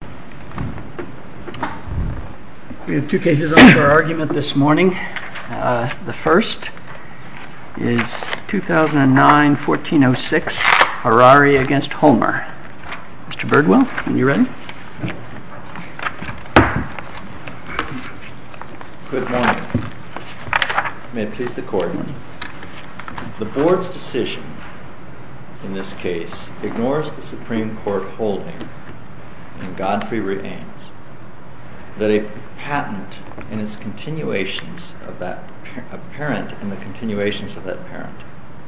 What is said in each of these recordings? Good morning. May it please the Court, the Board's decision in this case ignores the that a patent and its continuations of that parent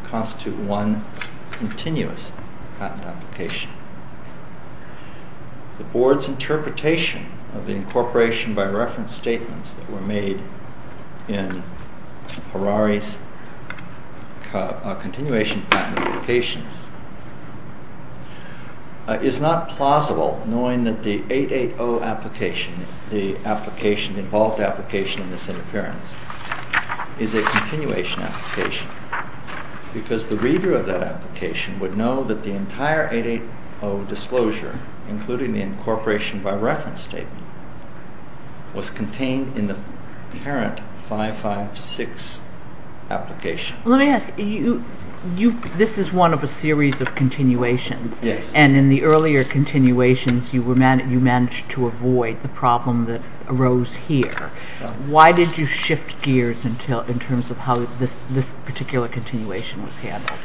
constitute one continuous patent application. The Board's interpretation of the incorporation by reference statements that were made in Harari's continuation patent application is not plausible, knowing that the 880 application, the application, the involved application in this interference, is a continuation application, because the reader of that application would know that the entire 880 disclosure, including the incorporation by reference statement, was contained in the parent 556 application. Let me ask, this is one of a series of continuations, and in the earlier continuations you managed to avoid the problem that arose here. Why did you shift gears in terms of how this particular continuation was handled?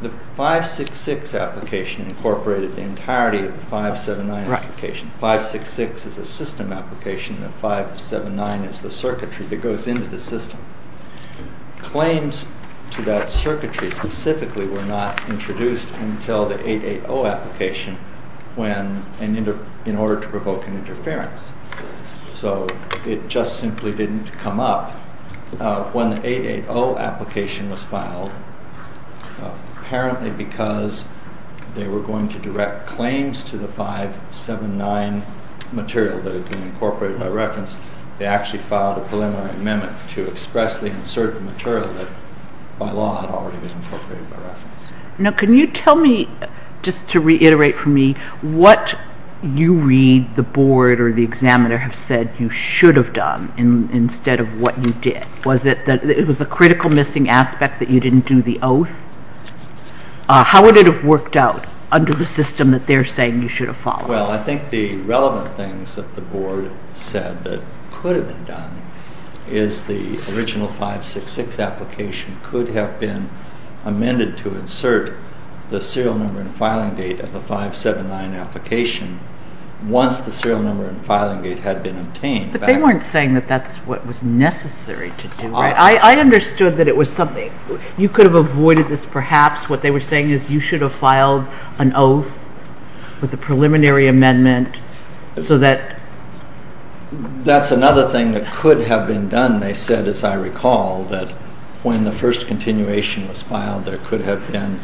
The 566 application incorporated the entirety of the 579 application. 566 is a system application and 579 is the circuitry that goes into the system. Claims to that circuitry specifically were not introduced until the 880 application in order to provoke an interference. So it just simply didn't come up. When the 880 application was filed, apparently because they were going to direct claims to the 579 material that had been incorporated by reference, they actually filed a preliminary amendment to expressly insert the material that by law had already been incorporated by reference. Now can you tell me, just to reiterate for me, what you read the board or the examiner have said you should have done instead of what you did? Was it that it was a critical missing aspect that you didn't do the oath? How would it have worked out under the system that they're saying you should have followed? Well, I think the relevant things that the board said that could have been done is the original 566 application could have been amended to insert the serial number and filing date of the 579 application once the serial number and filing date had been obtained. But they weren't saying that that's what was necessary to do, right? I understood that it was something. You could have avoided this perhaps. What they were saying is you should have filed an oath with a preliminary amendment so that... That's another thing that could have been done. They said, as I recall, that when the first continuation was filed there could have been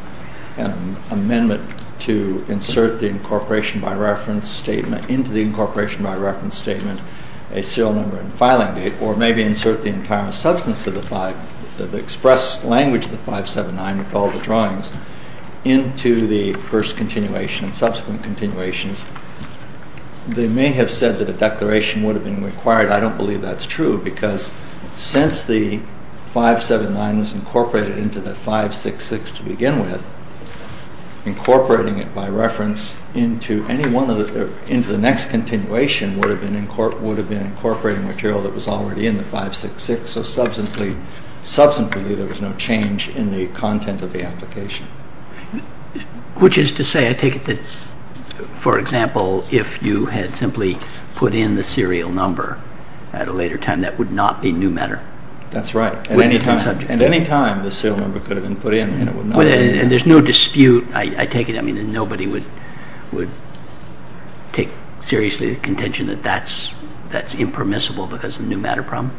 an amendment to insert the incorporation by reference statement into the incorporation by reference statement, a serial number and filing date, or maybe insert the entire substance of the express language of the 579 with all the drawings into the first continuation and subsequent continuations. They may have said that a declaration would have been required. I don't believe that's true because since the 579 was incorporated into the 566 to begin with, incorporating it by reference into any one of the... into the next continuation would have been incorporating material that was already in the 566, so substantially there was no change in the content of the application. Which is to say, I take it that, for example, if you had simply put in the serial number at a later time, that would not be new matter? That's right. At any time the serial number could have been put in and it would not have been new matter. And there's no dispute, I take it, I mean, nobody would take seriously the contention that that's impermissible because of the new matter problem?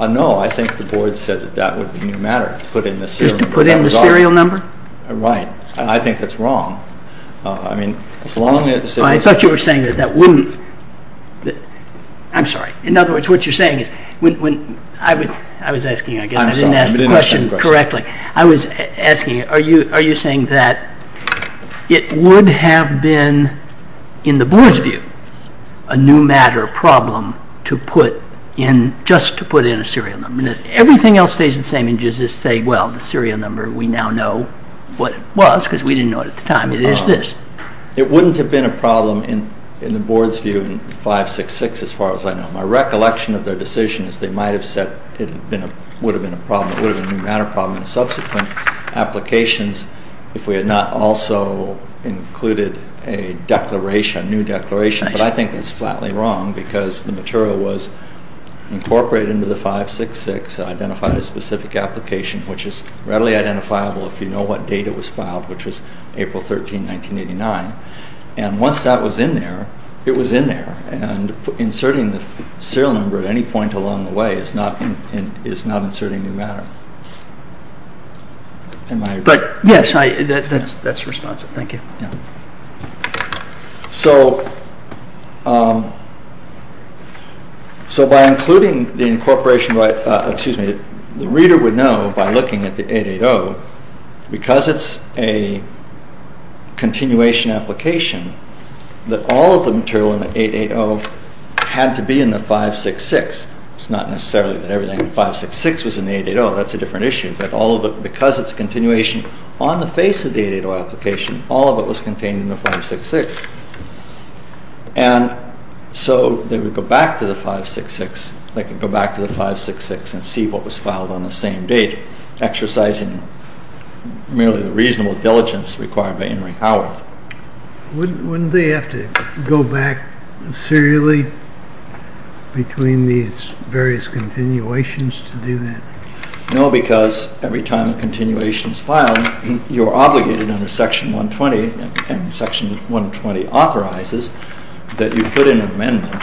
No, I think the board said that that would be new matter, to put in the serial number. Just to put in the serial number? Right. I think that's wrong. I mean, as long as... I thought you were saying that that wouldn't... I'm sorry. In other words, what you're saying is... I was asking again, I didn't ask the question correctly. I was asking, are you saying that it would have been, in the board's view, a new matter problem to put in... just to put in a serial number? Everything else stays the same and you just say, well, the serial number, we now know what it was because we didn't know it at the time. It is this. It wouldn't have been a problem, in the board's view, in 566 as far as I know. My recollection of their decision is they might have said it would have been a problem, it would have been a new matter problem in subsequent applications if we had not also included a declaration, a new declaration. But I think that's flatly wrong because the material was incorporated into the 566, identified a specific application, which is readily identifiable if you know what date it was filed, which was April 13, 1989. And once that was in there, it was in there. And inserting the serial number at any point along the way is not inserting new matter. But, yes, that's responsive. Thank you. So, by including the incorporation, the reader would know, by looking at the 880, because it's a continuation application, that all of the material in the 880 had to be in the 566. It's not necessarily that everything in 566 was in the 880. That's a different issue. That all of it, because it's a continuation, on the face of the 880 application, all of it was contained in the 566. And so they would go back to the 566 and see what was filed on the same date, exercising merely the reasonable diligence required by Henry Howarth. Wouldn't they have to go back serially between these various continuations to do that? No, because every time a continuation is filed, you're obligated under Section 120, and Section 120 authorizes that you put in an amendment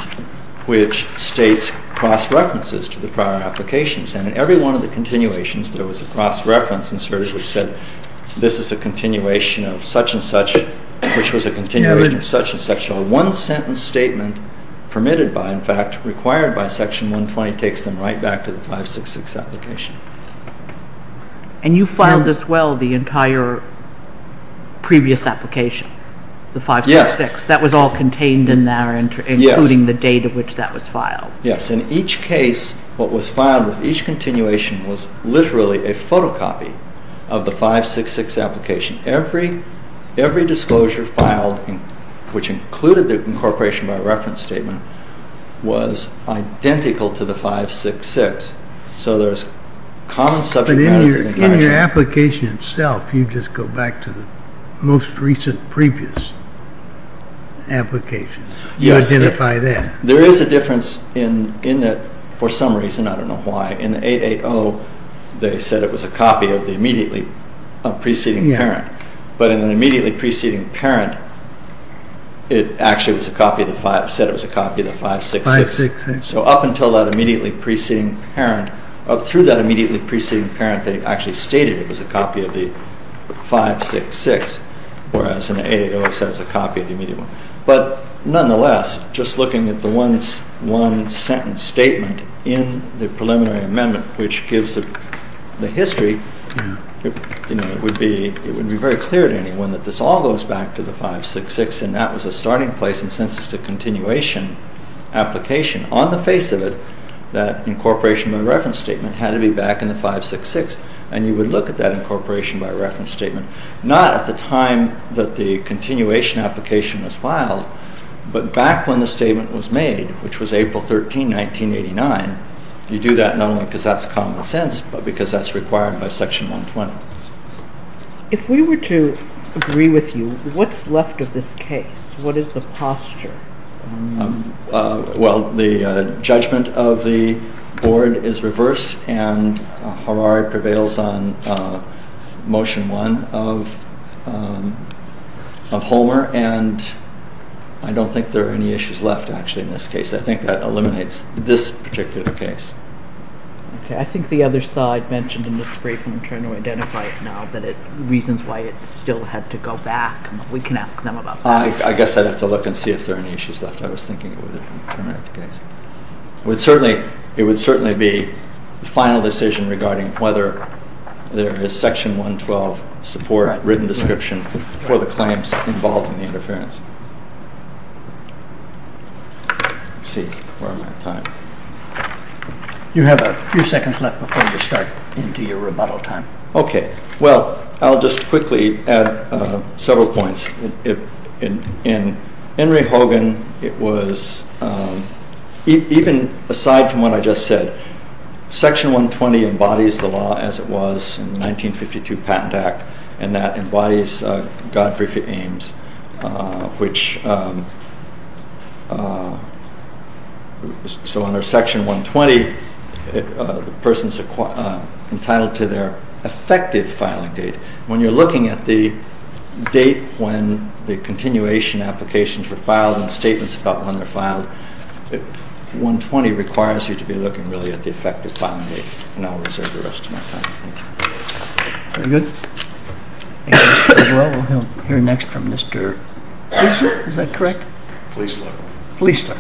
which states cross-references to the prior applications. And in every one of the continuations, there was a cross-reference inserted which said, this is a continuation of such-and-such, which was a continuation of such-and-such. So a one-sentence statement, permitted by, in fact, required by Section 120, takes them right back to the 566 application. And you filed as well the entire previous application, the 566? Yes. That was all contained in there, including the date at which that was filed? Yes. In each case, what was filed with each continuation was literally a photocopy of the 566 application. Every disclosure filed, which included the incorporation by reference statement, was identical to the 566. So there's common subject matter. But in your application itself, you just go back to the most recent previous application. You identify that. There is a difference in that, for some reason, I don't know why, in the 880, they said it was a copy of the immediately preceding parent. But in the immediately preceding parent, it said that it was a copy of the 566. So up until that immediately preceding parent, through that immediately preceding parent, they actually stated it was a copy of the 566, whereas in the 880 it said it was a copy of the immediate one. But nonetheless, just looking at the one sentence statement in the preliminary amendment, which gives the history, it would be very clear to anyone that this all goes back to the 566 and that was a starting place in census to continuation application. On the face of it, that incorporation by reference statement had to be back in the 566, and you would look at that incorporation by reference statement not at the time that the continuation application was filed, but back when the statement was made, which was April 13, 1989. You do that not only because that's common sense, but because that's required by Section 120. If we were to agree with you, what's left of this case? What is the posture? Well, the judgment of the Board is reversed, and Harari prevails on Motion 1 of Homer, and I don't think there are any issues left, actually, in this case. I think that eliminates this particular case. I think the other side mentioned in its briefing, trying to identify it now, that it reasons why it still had to go back. We can ask them about that. I guess I'd have to look and see if there are any issues left. I was thinking it would eliminate the case. It would certainly be the final decision regarding whether there is Section 112 support, written description, for the claims involved in the interference. Let's see, where am I on time? You have a few seconds left before you start into your rebuttal time. Okay, well, I'll just quickly add several points. In Henry Hogan, it was, even aside from what I just said, Section 120 embodies the law as it was in the 1952 Patent Act, and that embodies Godfrey Ames, which, so under Section 120, the person's entitled to their effective filing date. When you're looking at the date when the continuation applications were filed and statements about when they're filed, 120 requires you to be looking, really, at the effective filing date. And I'll reserve the rest of my time. Thank you. Very good. Well, we'll hear next from Mr. Gissler, is that correct? Gissler. Gissler. Gissler.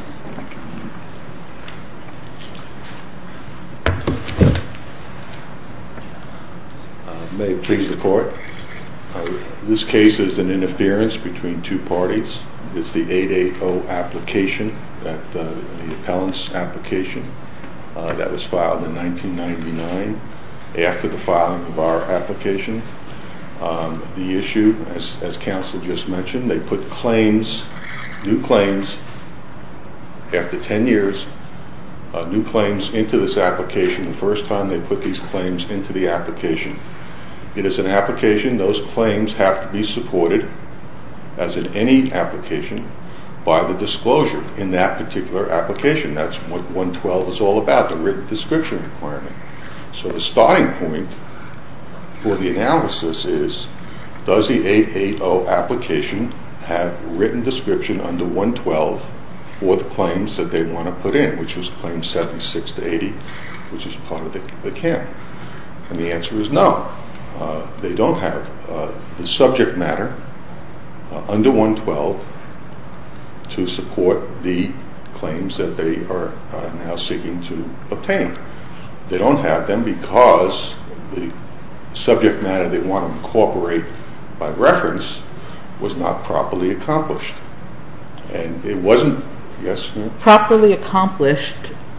May it please the Court, this case is an interference between two parties. It's the 880 application, the appellant's application, that was filed in 1999 after the filing of our application. The issue, as counsel just mentioned, they put claims, new claims, after 10 years, new claims into this application. The first time they put these claims into the application. It is an application. Those claims have to be supported, as in any application, by the disclosure in that particular application. That's what 112 is all about, the written description requirement. So the starting point for the analysis is, does the 880 application have a written description under 112 for the claims that they want to put in, which was claims 76 to 80, which is part of the account? And the answer is no. They don't have the subject matter under 112 to support the claims that they are now seeking to obtain. They don't have them because the subject matter they want to incorporate by reference was not properly accomplished. And it wasn't, yes? Properly accomplished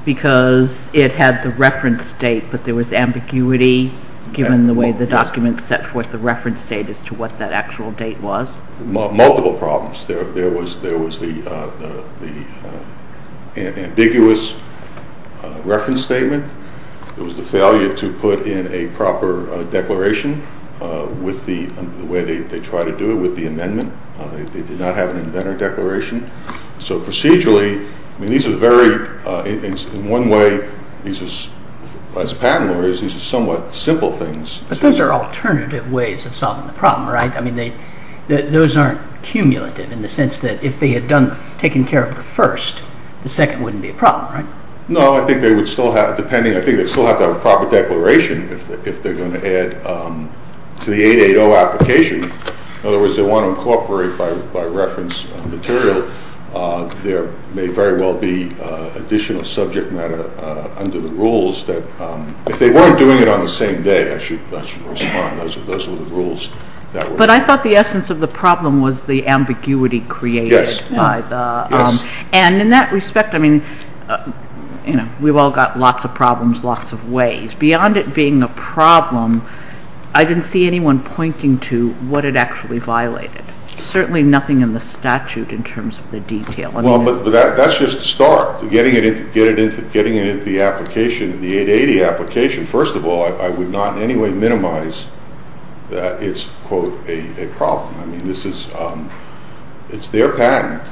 because it had the reference date, but there was ambiguity given the way the document set forth the reference date as to what that actual date was. Multiple problems. There was the ambiguous reference statement. There was the failure to put in a proper declaration with the way they tried to do it, with the amendment. They did not have an inventor declaration. So procedurally, these are very, in one way, as a patent lawyer, these are somewhat simple things. But those are alternative ways of solving the problem, right? I mean, those aren't cumulative in the sense that if they had taken care of the first, the second wouldn't be a problem, right? No, I think they would still have, depending, I think they'd still have to have a proper declaration if they're going to add to the 880 application. In other words, they want to incorporate by reference material. There may very well be additional subject matter under the rules that, if they weren't doing it on the same day, I should respond. But I thought the essence of the problem was the ambiguity created. Yes. And in that respect, I mean, we've all got lots of problems, lots of ways. Beyond it being a problem, I didn't see anyone pointing to what it actually violated. Certainly nothing in the statute in terms of the detail. Well, but that's just the start. Getting it into the application, the 880 application, first of all, I would not in any way minimize that it's, quote, a problem. I mean, it's their patent.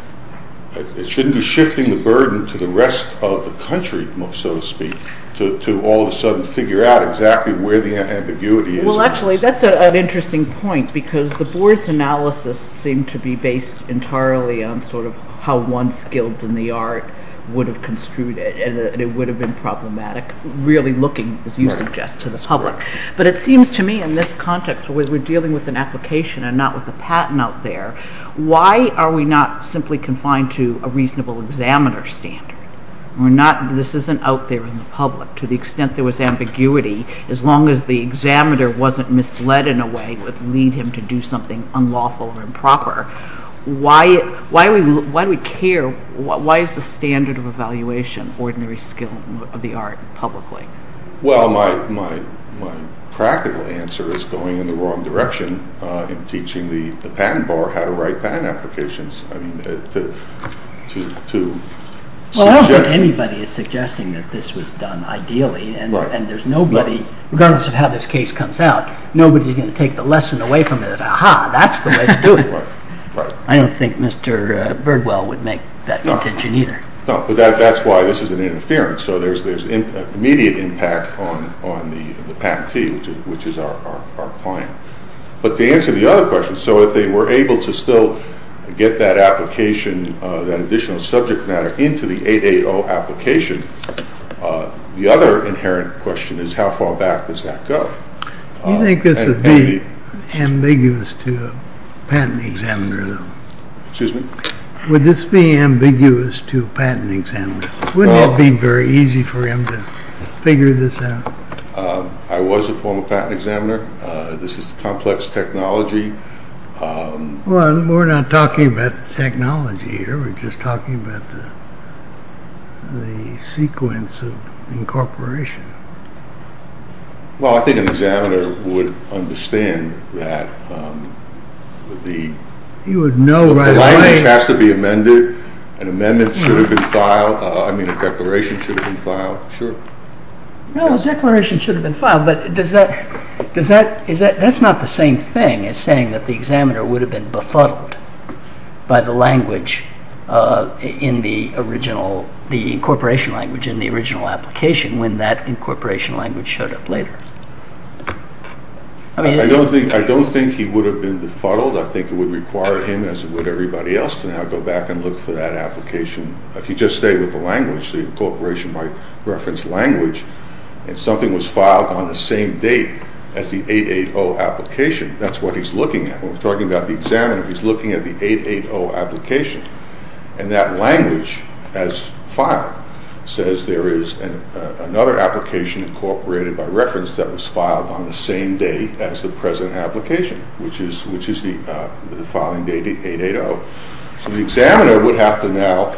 It shouldn't be shifting the burden to the rest of the country, so to speak, to all of a sudden figure out exactly where the ambiguity is. Well, actually, that's an interesting point because the board's analysis seemed to be based entirely on sort of how one skilled in the art would have construed it, and it would have been problematic really looking, as you suggest, to the public. But it seems to me in this context where we're dealing with an application and not with a patent out there, why are we not simply confined to a reasonable examiner standard? This isn't out there in the public. To the extent there was ambiguity, as long as the examiner wasn't misled in a way that would lead him to do something unlawful or improper, why do we care, why is the standard of evaluation ordinary skill of the art publicly? Well, my practical answer is going in the wrong direction in teaching the patent bar how to write patent applications. I mean, to suggest... Well, I don't think anybody is suggesting that this was done ideally, and there's nobody, regardless of how this case comes out, nobody's going to take the lesson away from it, and say, aha, that's the way to do it. I don't think Mr. Birdwell would make that intention either. No, but that's why this is an interference. So there's immediate impact on the patentee, which is our client. But to answer the other question, so if they were able to still get that application, that additional subject matter into the 880 application, the other inherent question is how far back does that go? Do you think this would be ambiguous to a patent examiner, though? Excuse me? Would this be ambiguous to a patent examiner? Wouldn't it be very easy for him to figure this out? I was a former patent examiner. This is complex technology. Well, we're not talking about technology here. We're just talking about the sequence of incorporation. Well, I think an examiner would understand that the language has to be amended. An amendment should have been filed. I mean, a declaration should have been filed. No, a declaration should have been filed, but that's not the same thing as saying that the examiner would have been befuddled by the incorporation language in the original application when that incorporation language showed up later. I don't think he would have been befuddled. I think it would require him, as it would everybody else, to now go back and look for that application. If you just stay with the language, the incorporation by reference language, and something was filed on the same date as the 880 application, that's what he's looking at. When we're talking about the examiner, he's looking at the 880 application, and that language, as filed, says there is another application incorporated by reference that was filed on the same date as the present application, which is the filing date, the 880. So the examiner would have to now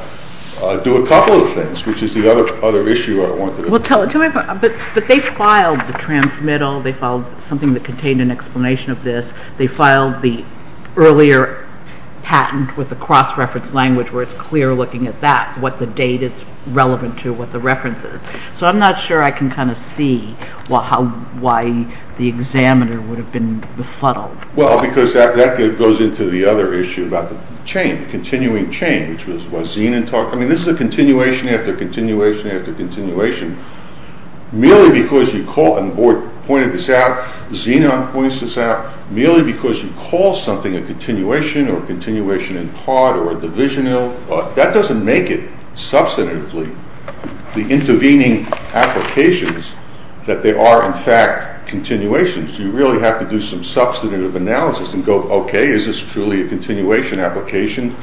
do a couple of things, which is the other issue I want to discuss. But they filed the transmittal. They filed something that contained an explanation of this. They filed the earlier patent with the cross-reference language where it's clear looking at that, what the date is relevant to what the reference is. So I'm not sure I can kind of see why the examiner would have been befuddled. Well, because that goes into the other issue about the chain, the continuing chain, which is what Zina talked about. I mean, this is a continuation after continuation after continuation. Merely because you call, and the board pointed this out, Zina points this out, merely because you call something a continuation or a continuation in part or a divisional, that doesn't make it, substantively, the intervening applications that they are, in fact, continuations. You really have to do some substantive analysis and go, okay, is this truly a continuation application?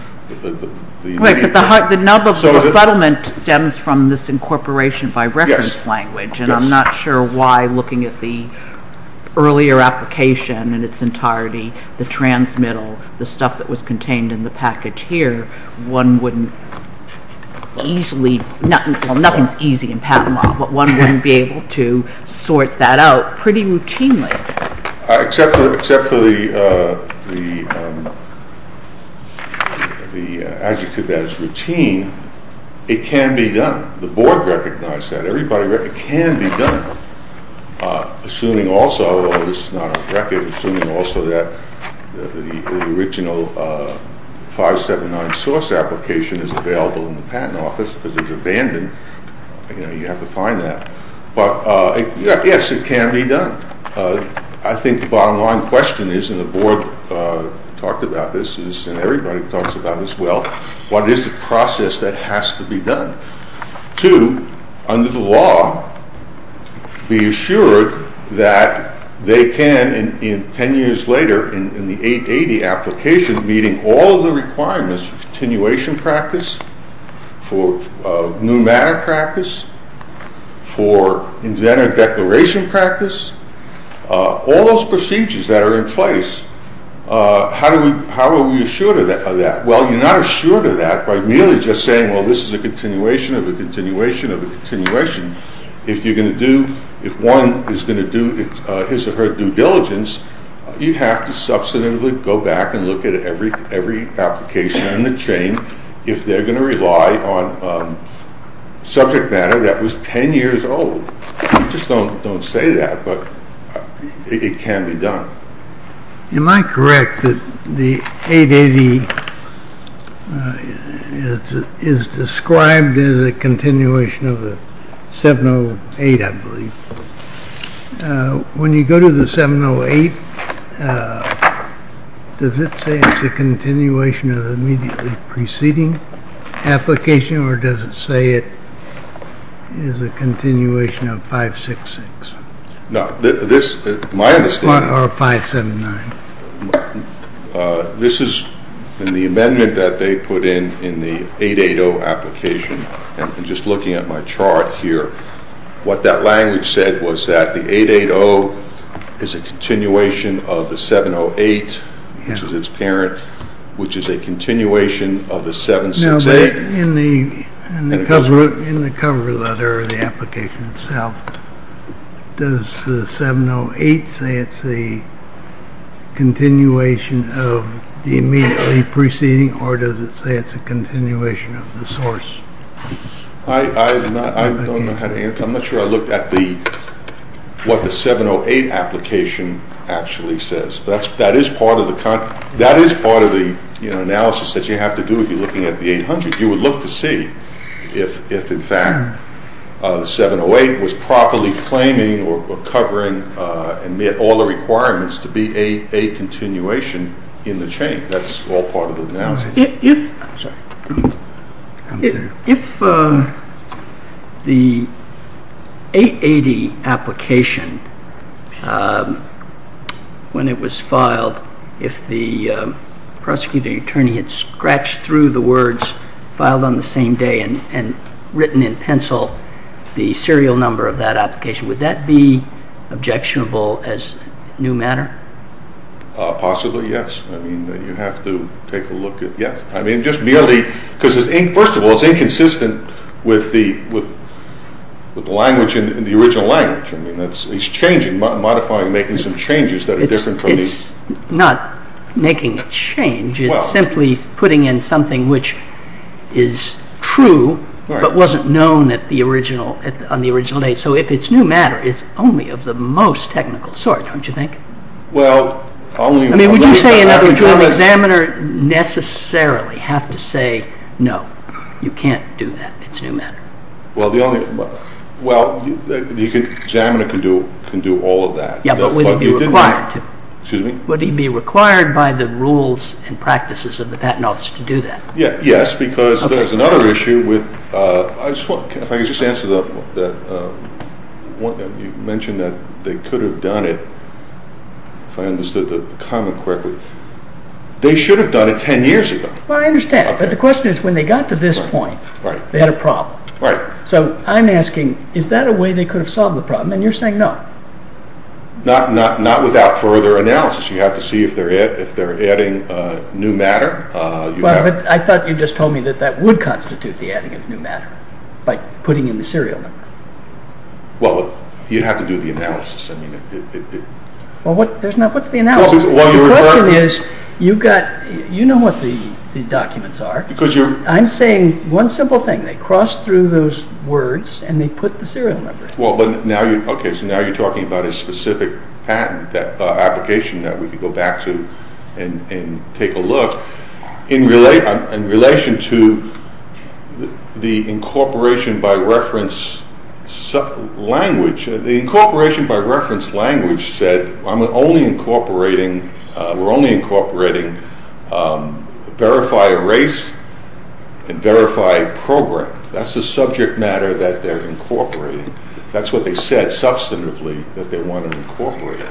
Right, but the nub of the befuddlement stems from this incorporation by reference language. And I'm not sure why, looking at the earlier application in its entirety, the transmittal, the stuff that was contained in the package here, one wouldn't easily, well, nothing is easy in patent law, but one wouldn't be able to sort that out pretty routinely. Except for the adjective that is routine, it can be done. The board recognized that. Everybody recognized it can be done, assuming also, although this is not on record, assuming also that the original 579 source application is available in the patent office because it's abandoned, you know, you have to find that. But, yes, it can be done. I think the bottom line question is, and the board talked about this and everybody talks about this as well, what is the process that has to be done to, under the law, be assured that they can, 10 years later, in the 880 application, meeting all of the requirements for continuation practice, for new matter practice, for inventor declaration practice, all those procedures that are in place, how are we assured of that? Well, you're not assured of that by merely just saying, well, this is a continuation of a continuation of a continuation. If you're going to do, if one is going to do his or her due diligence, you have to substantively go back and look at every application in the chain if they're going to rely on subject matter that was 10 years old. We just don't say that, but it can be done. Am I correct that the 880 is described as a continuation of the 708, I believe? When you go to the 708, does it say it's a continuation of the immediately preceding application or does it say it is a continuation of 566? No, this, my understanding, this is in the amendment that they put in, in the 880 application, and just looking at my chart here, what that language said was that the 880 is a continuation of the 708, which is its parent, which is a continuation of the 768. In the cover letter of the application itself, does the 708 say it's a continuation of the immediately preceding or does it say it's a continuation of the source? I don't know how to answer. I'm not sure I looked at what the 708 application actually says, but that is part of the analysis that you have to do if you're looking at the 800. You would look to see if, in fact, the 708 was properly claiming or covering and met all the requirements to be a continuation in the chain. That's all part of the analysis. If the 880 application, when it was filed, if the prosecuting attorney had scratched through the words filed on the same day and written in pencil the serial number of that application, would that be objectionable as new matter? Possibly, yes. I mean, you have to take a look at, yes. I mean, just merely because, first of all, it's inconsistent with the language in the original language. It's changing, modifying, making some changes that are different from the… It's not making a change. It's simply putting in something which is true but wasn't known on the original day. So if it's new matter, it's only of the most technical sort, don't you think? Well, only… I mean, would you say in other words, would the examiner necessarily have to say, no, you can't do that, it's new matter? Well, the only… Well, the examiner can do all of that. Yes, but would he be required to? Excuse me? Would he be required by the rules and practices of the patent office to do that? Yes, because there's another issue with… I just want… If I could just answer the… You mentioned that they could have done it, if I understood the comment correctly. They should have done it 10 years ago. Well, I understand. But the question is, when they got to this point, they had a problem. Right. So I'm asking, is that a way they could have solved the problem? And you're saying no. Not without further analysis. You have to see if they're adding new matter. I thought you just told me that that would constitute the adding of new matter by putting in the serial number. Well, you'd have to do the analysis. Well, what's the analysis? The question is, you know what the documents are. I'm saying one simple thing. They crossed through those words and they put the serial number. Okay, so now you're talking about a specific patent application that we could go back to and take a look. In relation to the incorporation by reference language, the incorporation by reference language said we're only incorporating verify erase and verify program. That's the subject matter that they're incorporating. That's what they said substantively that they want to incorporate.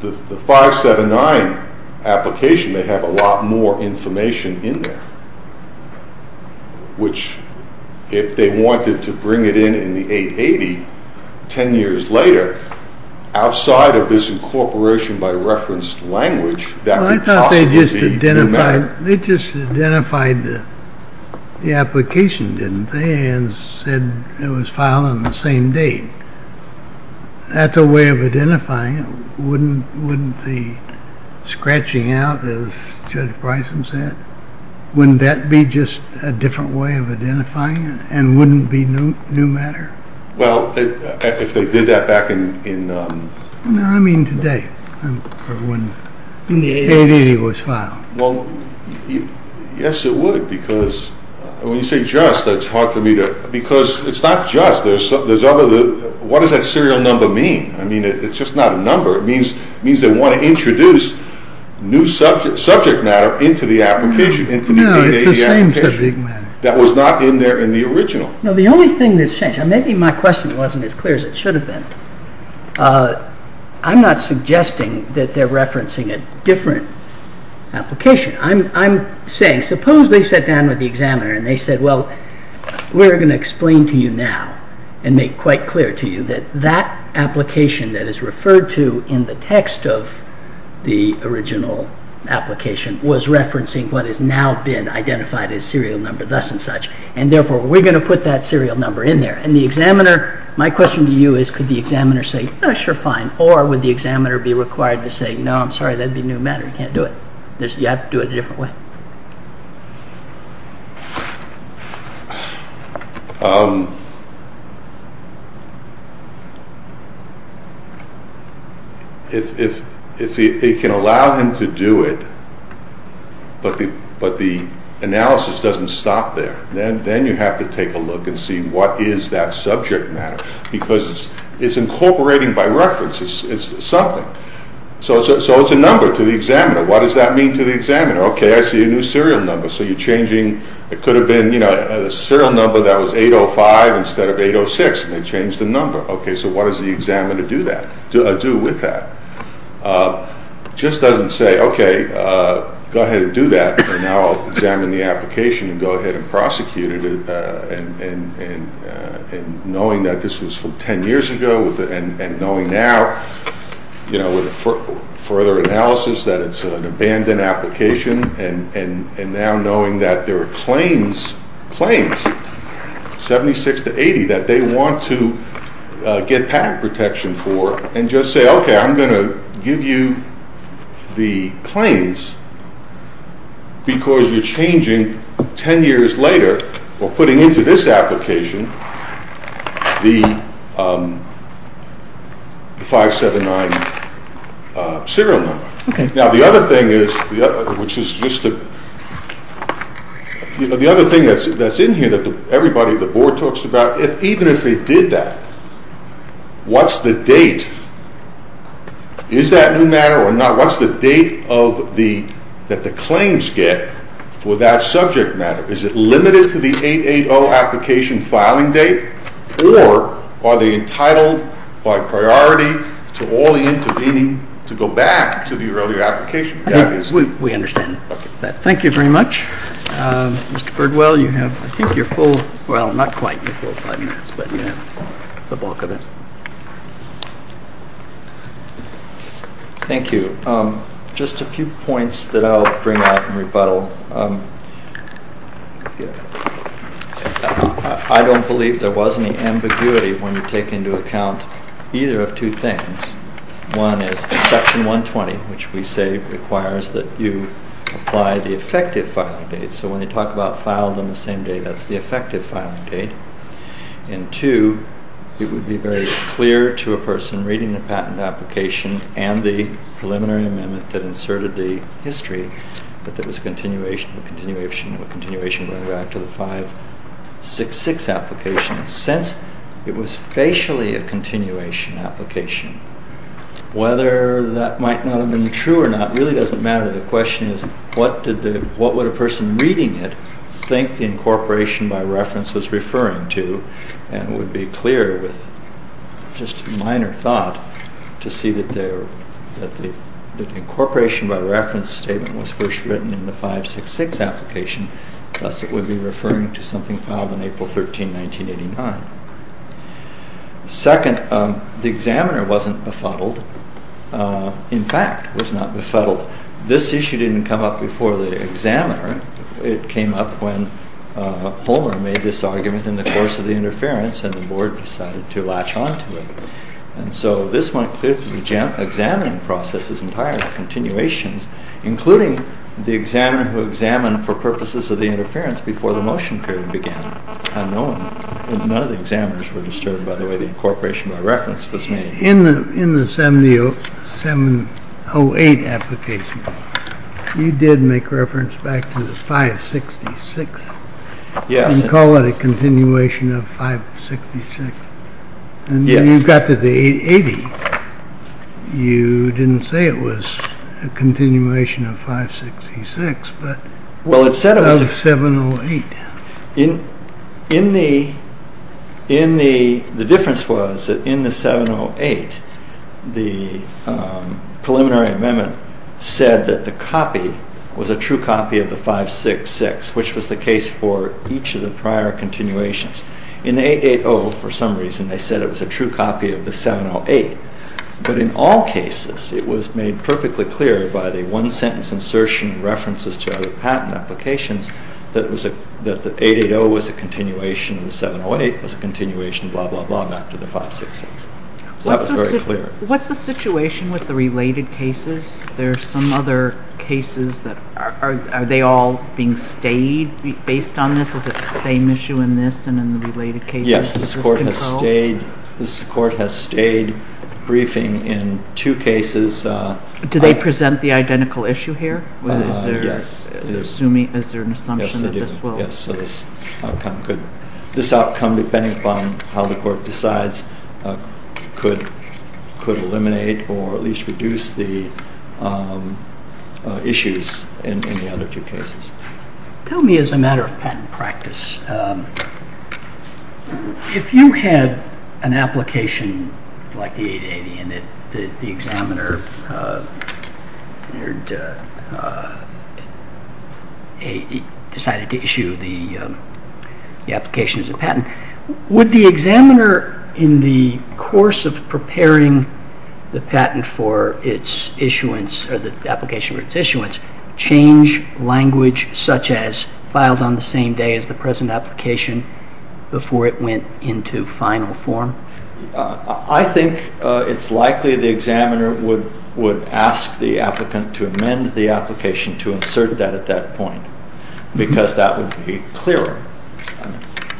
The 579 application may have a lot more information in there, which if they wanted to bring it in in the 880 ten years later, outside of this incorporation by reference language, that could possibly be new matter. Well, I thought they just identified the application, didn't they, and said it was filed on the same date. That's a way of identifying it. Wouldn't the scratching out, as Judge Bryson said, wouldn't that be just a different way of identifying it and wouldn't it be new matter? Well, if they did that back in... No, I mean today, when 880 was filed. Well, yes, it would, because when you say just, that's hard for me to, because it's not just. What does that serial number mean? I mean, it's just not a number. It means they want to introduce new subject matter into the application. No, it's the same subject matter. That was not in there in the original. No, the only thing that's changed, and maybe my question wasn't as clear as it should have been, I'm not suggesting that they're referencing a different application. I'm saying, suppose they sat down with the examiner and they said, well, we're going to explain to you now and make quite clear to you that that application that is referred to in the text of the original application was referencing what has now been identified as serial number, thus and such, and therefore we're going to put that serial number in there. And the examiner, my question to you is, could the examiner say, oh, sure, fine, or would the examiner be required to say, no, I'm sorry, that'd be new matter, you can't do it. You have to do it a different way. If he can allow him to do it, but the analysis doesn't stop there, then you have to take a look and see what is that subject matter, because it's incorporating by reference, it's something. So it's a number to the examiner. What does that mean to the examiner? Okay, I see a new serial number, so you're changing, it could have been a serial number that was 805 instead of 806, and they changed the number. Okay, so what does the examiner do with that? It just doesn't say, okay, go ahead and do that, and now I'll examine the application and go ahead and prosecute it, and knowing that this was from 10 years ago, and knowing now with further analysis that it's an abandoned application, and now knowing that there are claims, 76 to 80, that they want to get patent protection for, and just say, okay, I'm going to give you the claims, because you're changing 10 years later, or putting into this application, the 579 serial number. Okay. Now the other thing is, which is just the, you know, the other thing that's in here that everybody at the board talks about, even if they did that, what's the date? Is that new matter or not? What's the date that the claims get for that subject matter? Is it limited to the 880 application filing date, or are they entitled by priority to all the intervening to go back to the earlier application? We understand that. Thank you very much. Mr. Birdwell, you have, I think, your full, well, not quite your full five minutes, but you have the bulk of it. Thank you. Just a few points that I'll bring up and rebuttal. I don't believe there was any ambiguity when you take into account either of two things. One is Section 120, which we say requires that you apply the effective filing date. So when you talk about filed on the same day, that's the effective filing date. And two, it would be very clear to a person reading the patent application and the preliminary amendment that inserted the history that there was a continuation, a continuation, a continuation going back to the 566 application, since it was facially a continuation application. Whether that might not have been true or not really doesn't matter. The question is what would a person reading it think the incorporation by reference was referring to, and it would be clear, with just a minor thought, to see that the incorporation by reference statement was first written in the 566 application, thus it would be referring to something filed on April 13, 1989. Second, the examiner wasn't befuddled. In fact, was not befuddled. This issue didn't come up before the examiner. It came up when Homer made this argument in the course of the interference and the board decided to latch on to it. And so this went through the examining process as entire continuations, including the examiner who examined for purposes of the interference before the motion period began. None of the examiners were disturbed by the way the incorporation by reference was made. In the 708 application, you did make reference back to the 566. Yes. And call it a continuation of 566. Yes. And when you got to the 80, you didn't say it was a continuation of 566, but of 708. The difference was that in the 708, the preliminary amendment said that the copy was a true copy of the 566, which was the case for each of the prior continuations. In the 880, for some reason, they said it was a true copy of the 708. But in all cases, it was made perfectly clear by the one-sentence insertion and references to other patent applications that the 880 was a continuation, the 708 was a continuation, blah, blah, blah, not to the 566. So that was very clear. What's the situation with the related cases? There are some other cases that are they all being stayed based on this? Is it the same issue in this and in the related cases? Yes, this court has stayed briefing in two cases. Do they present the identical issue here? Yes. Is there an assumption that this will? Yes, they do. This outcome, depending upon how the court decides, could eliminate or at least reduce the issues in the other two cases. Tell me, as a matter of patent practice, if you had an application like the 880 and the examiner decided to issue the application as a patent, would the examiner, in the course of preparing the patent for its issuance or the application for its issuance, change language such as filed on the same day as the present application before it went into final form? I think it's likely the examiner would ask the applicant to amend the application to insert that at that point because that would be clearer.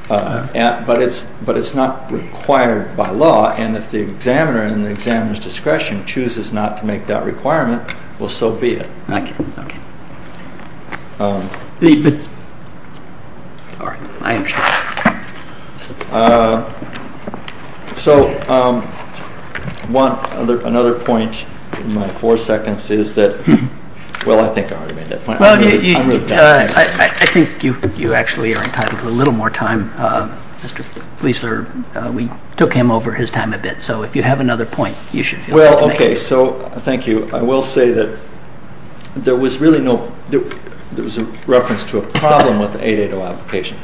But it's not required by law, and if the examiner and the examiner's discretion chooses not to make that requirement, well, so be it. Thank you. Okay. All right. I understand. So another point in my four seconds is that, well, I think I already made that point. Well, I think you actually are entitled to a little more time. Mr. Fleisler, we took him over his time a bit, so if you have another point, you should feel free to make it. Well, okay. So thank you. I will say that there was really no reference to a problem with the 880 application.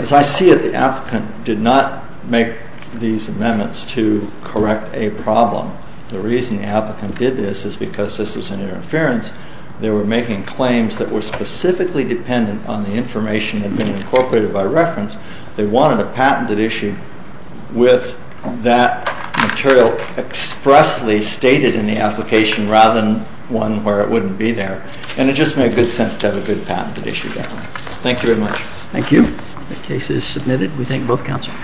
As I see it, the applicant did not make these amendments to correct a problem. The reason the applicant did this is because this was an interference. They were making claims that were specifically dependent on the information that had been incorporated by reference. They wanted a patented issue with that material expressly stated in the application rather than one where it wouldn't be there, and it just made good sense to have a good patented issue there. Thank you very much. Thank you. The case is submitted. We thank both counsel.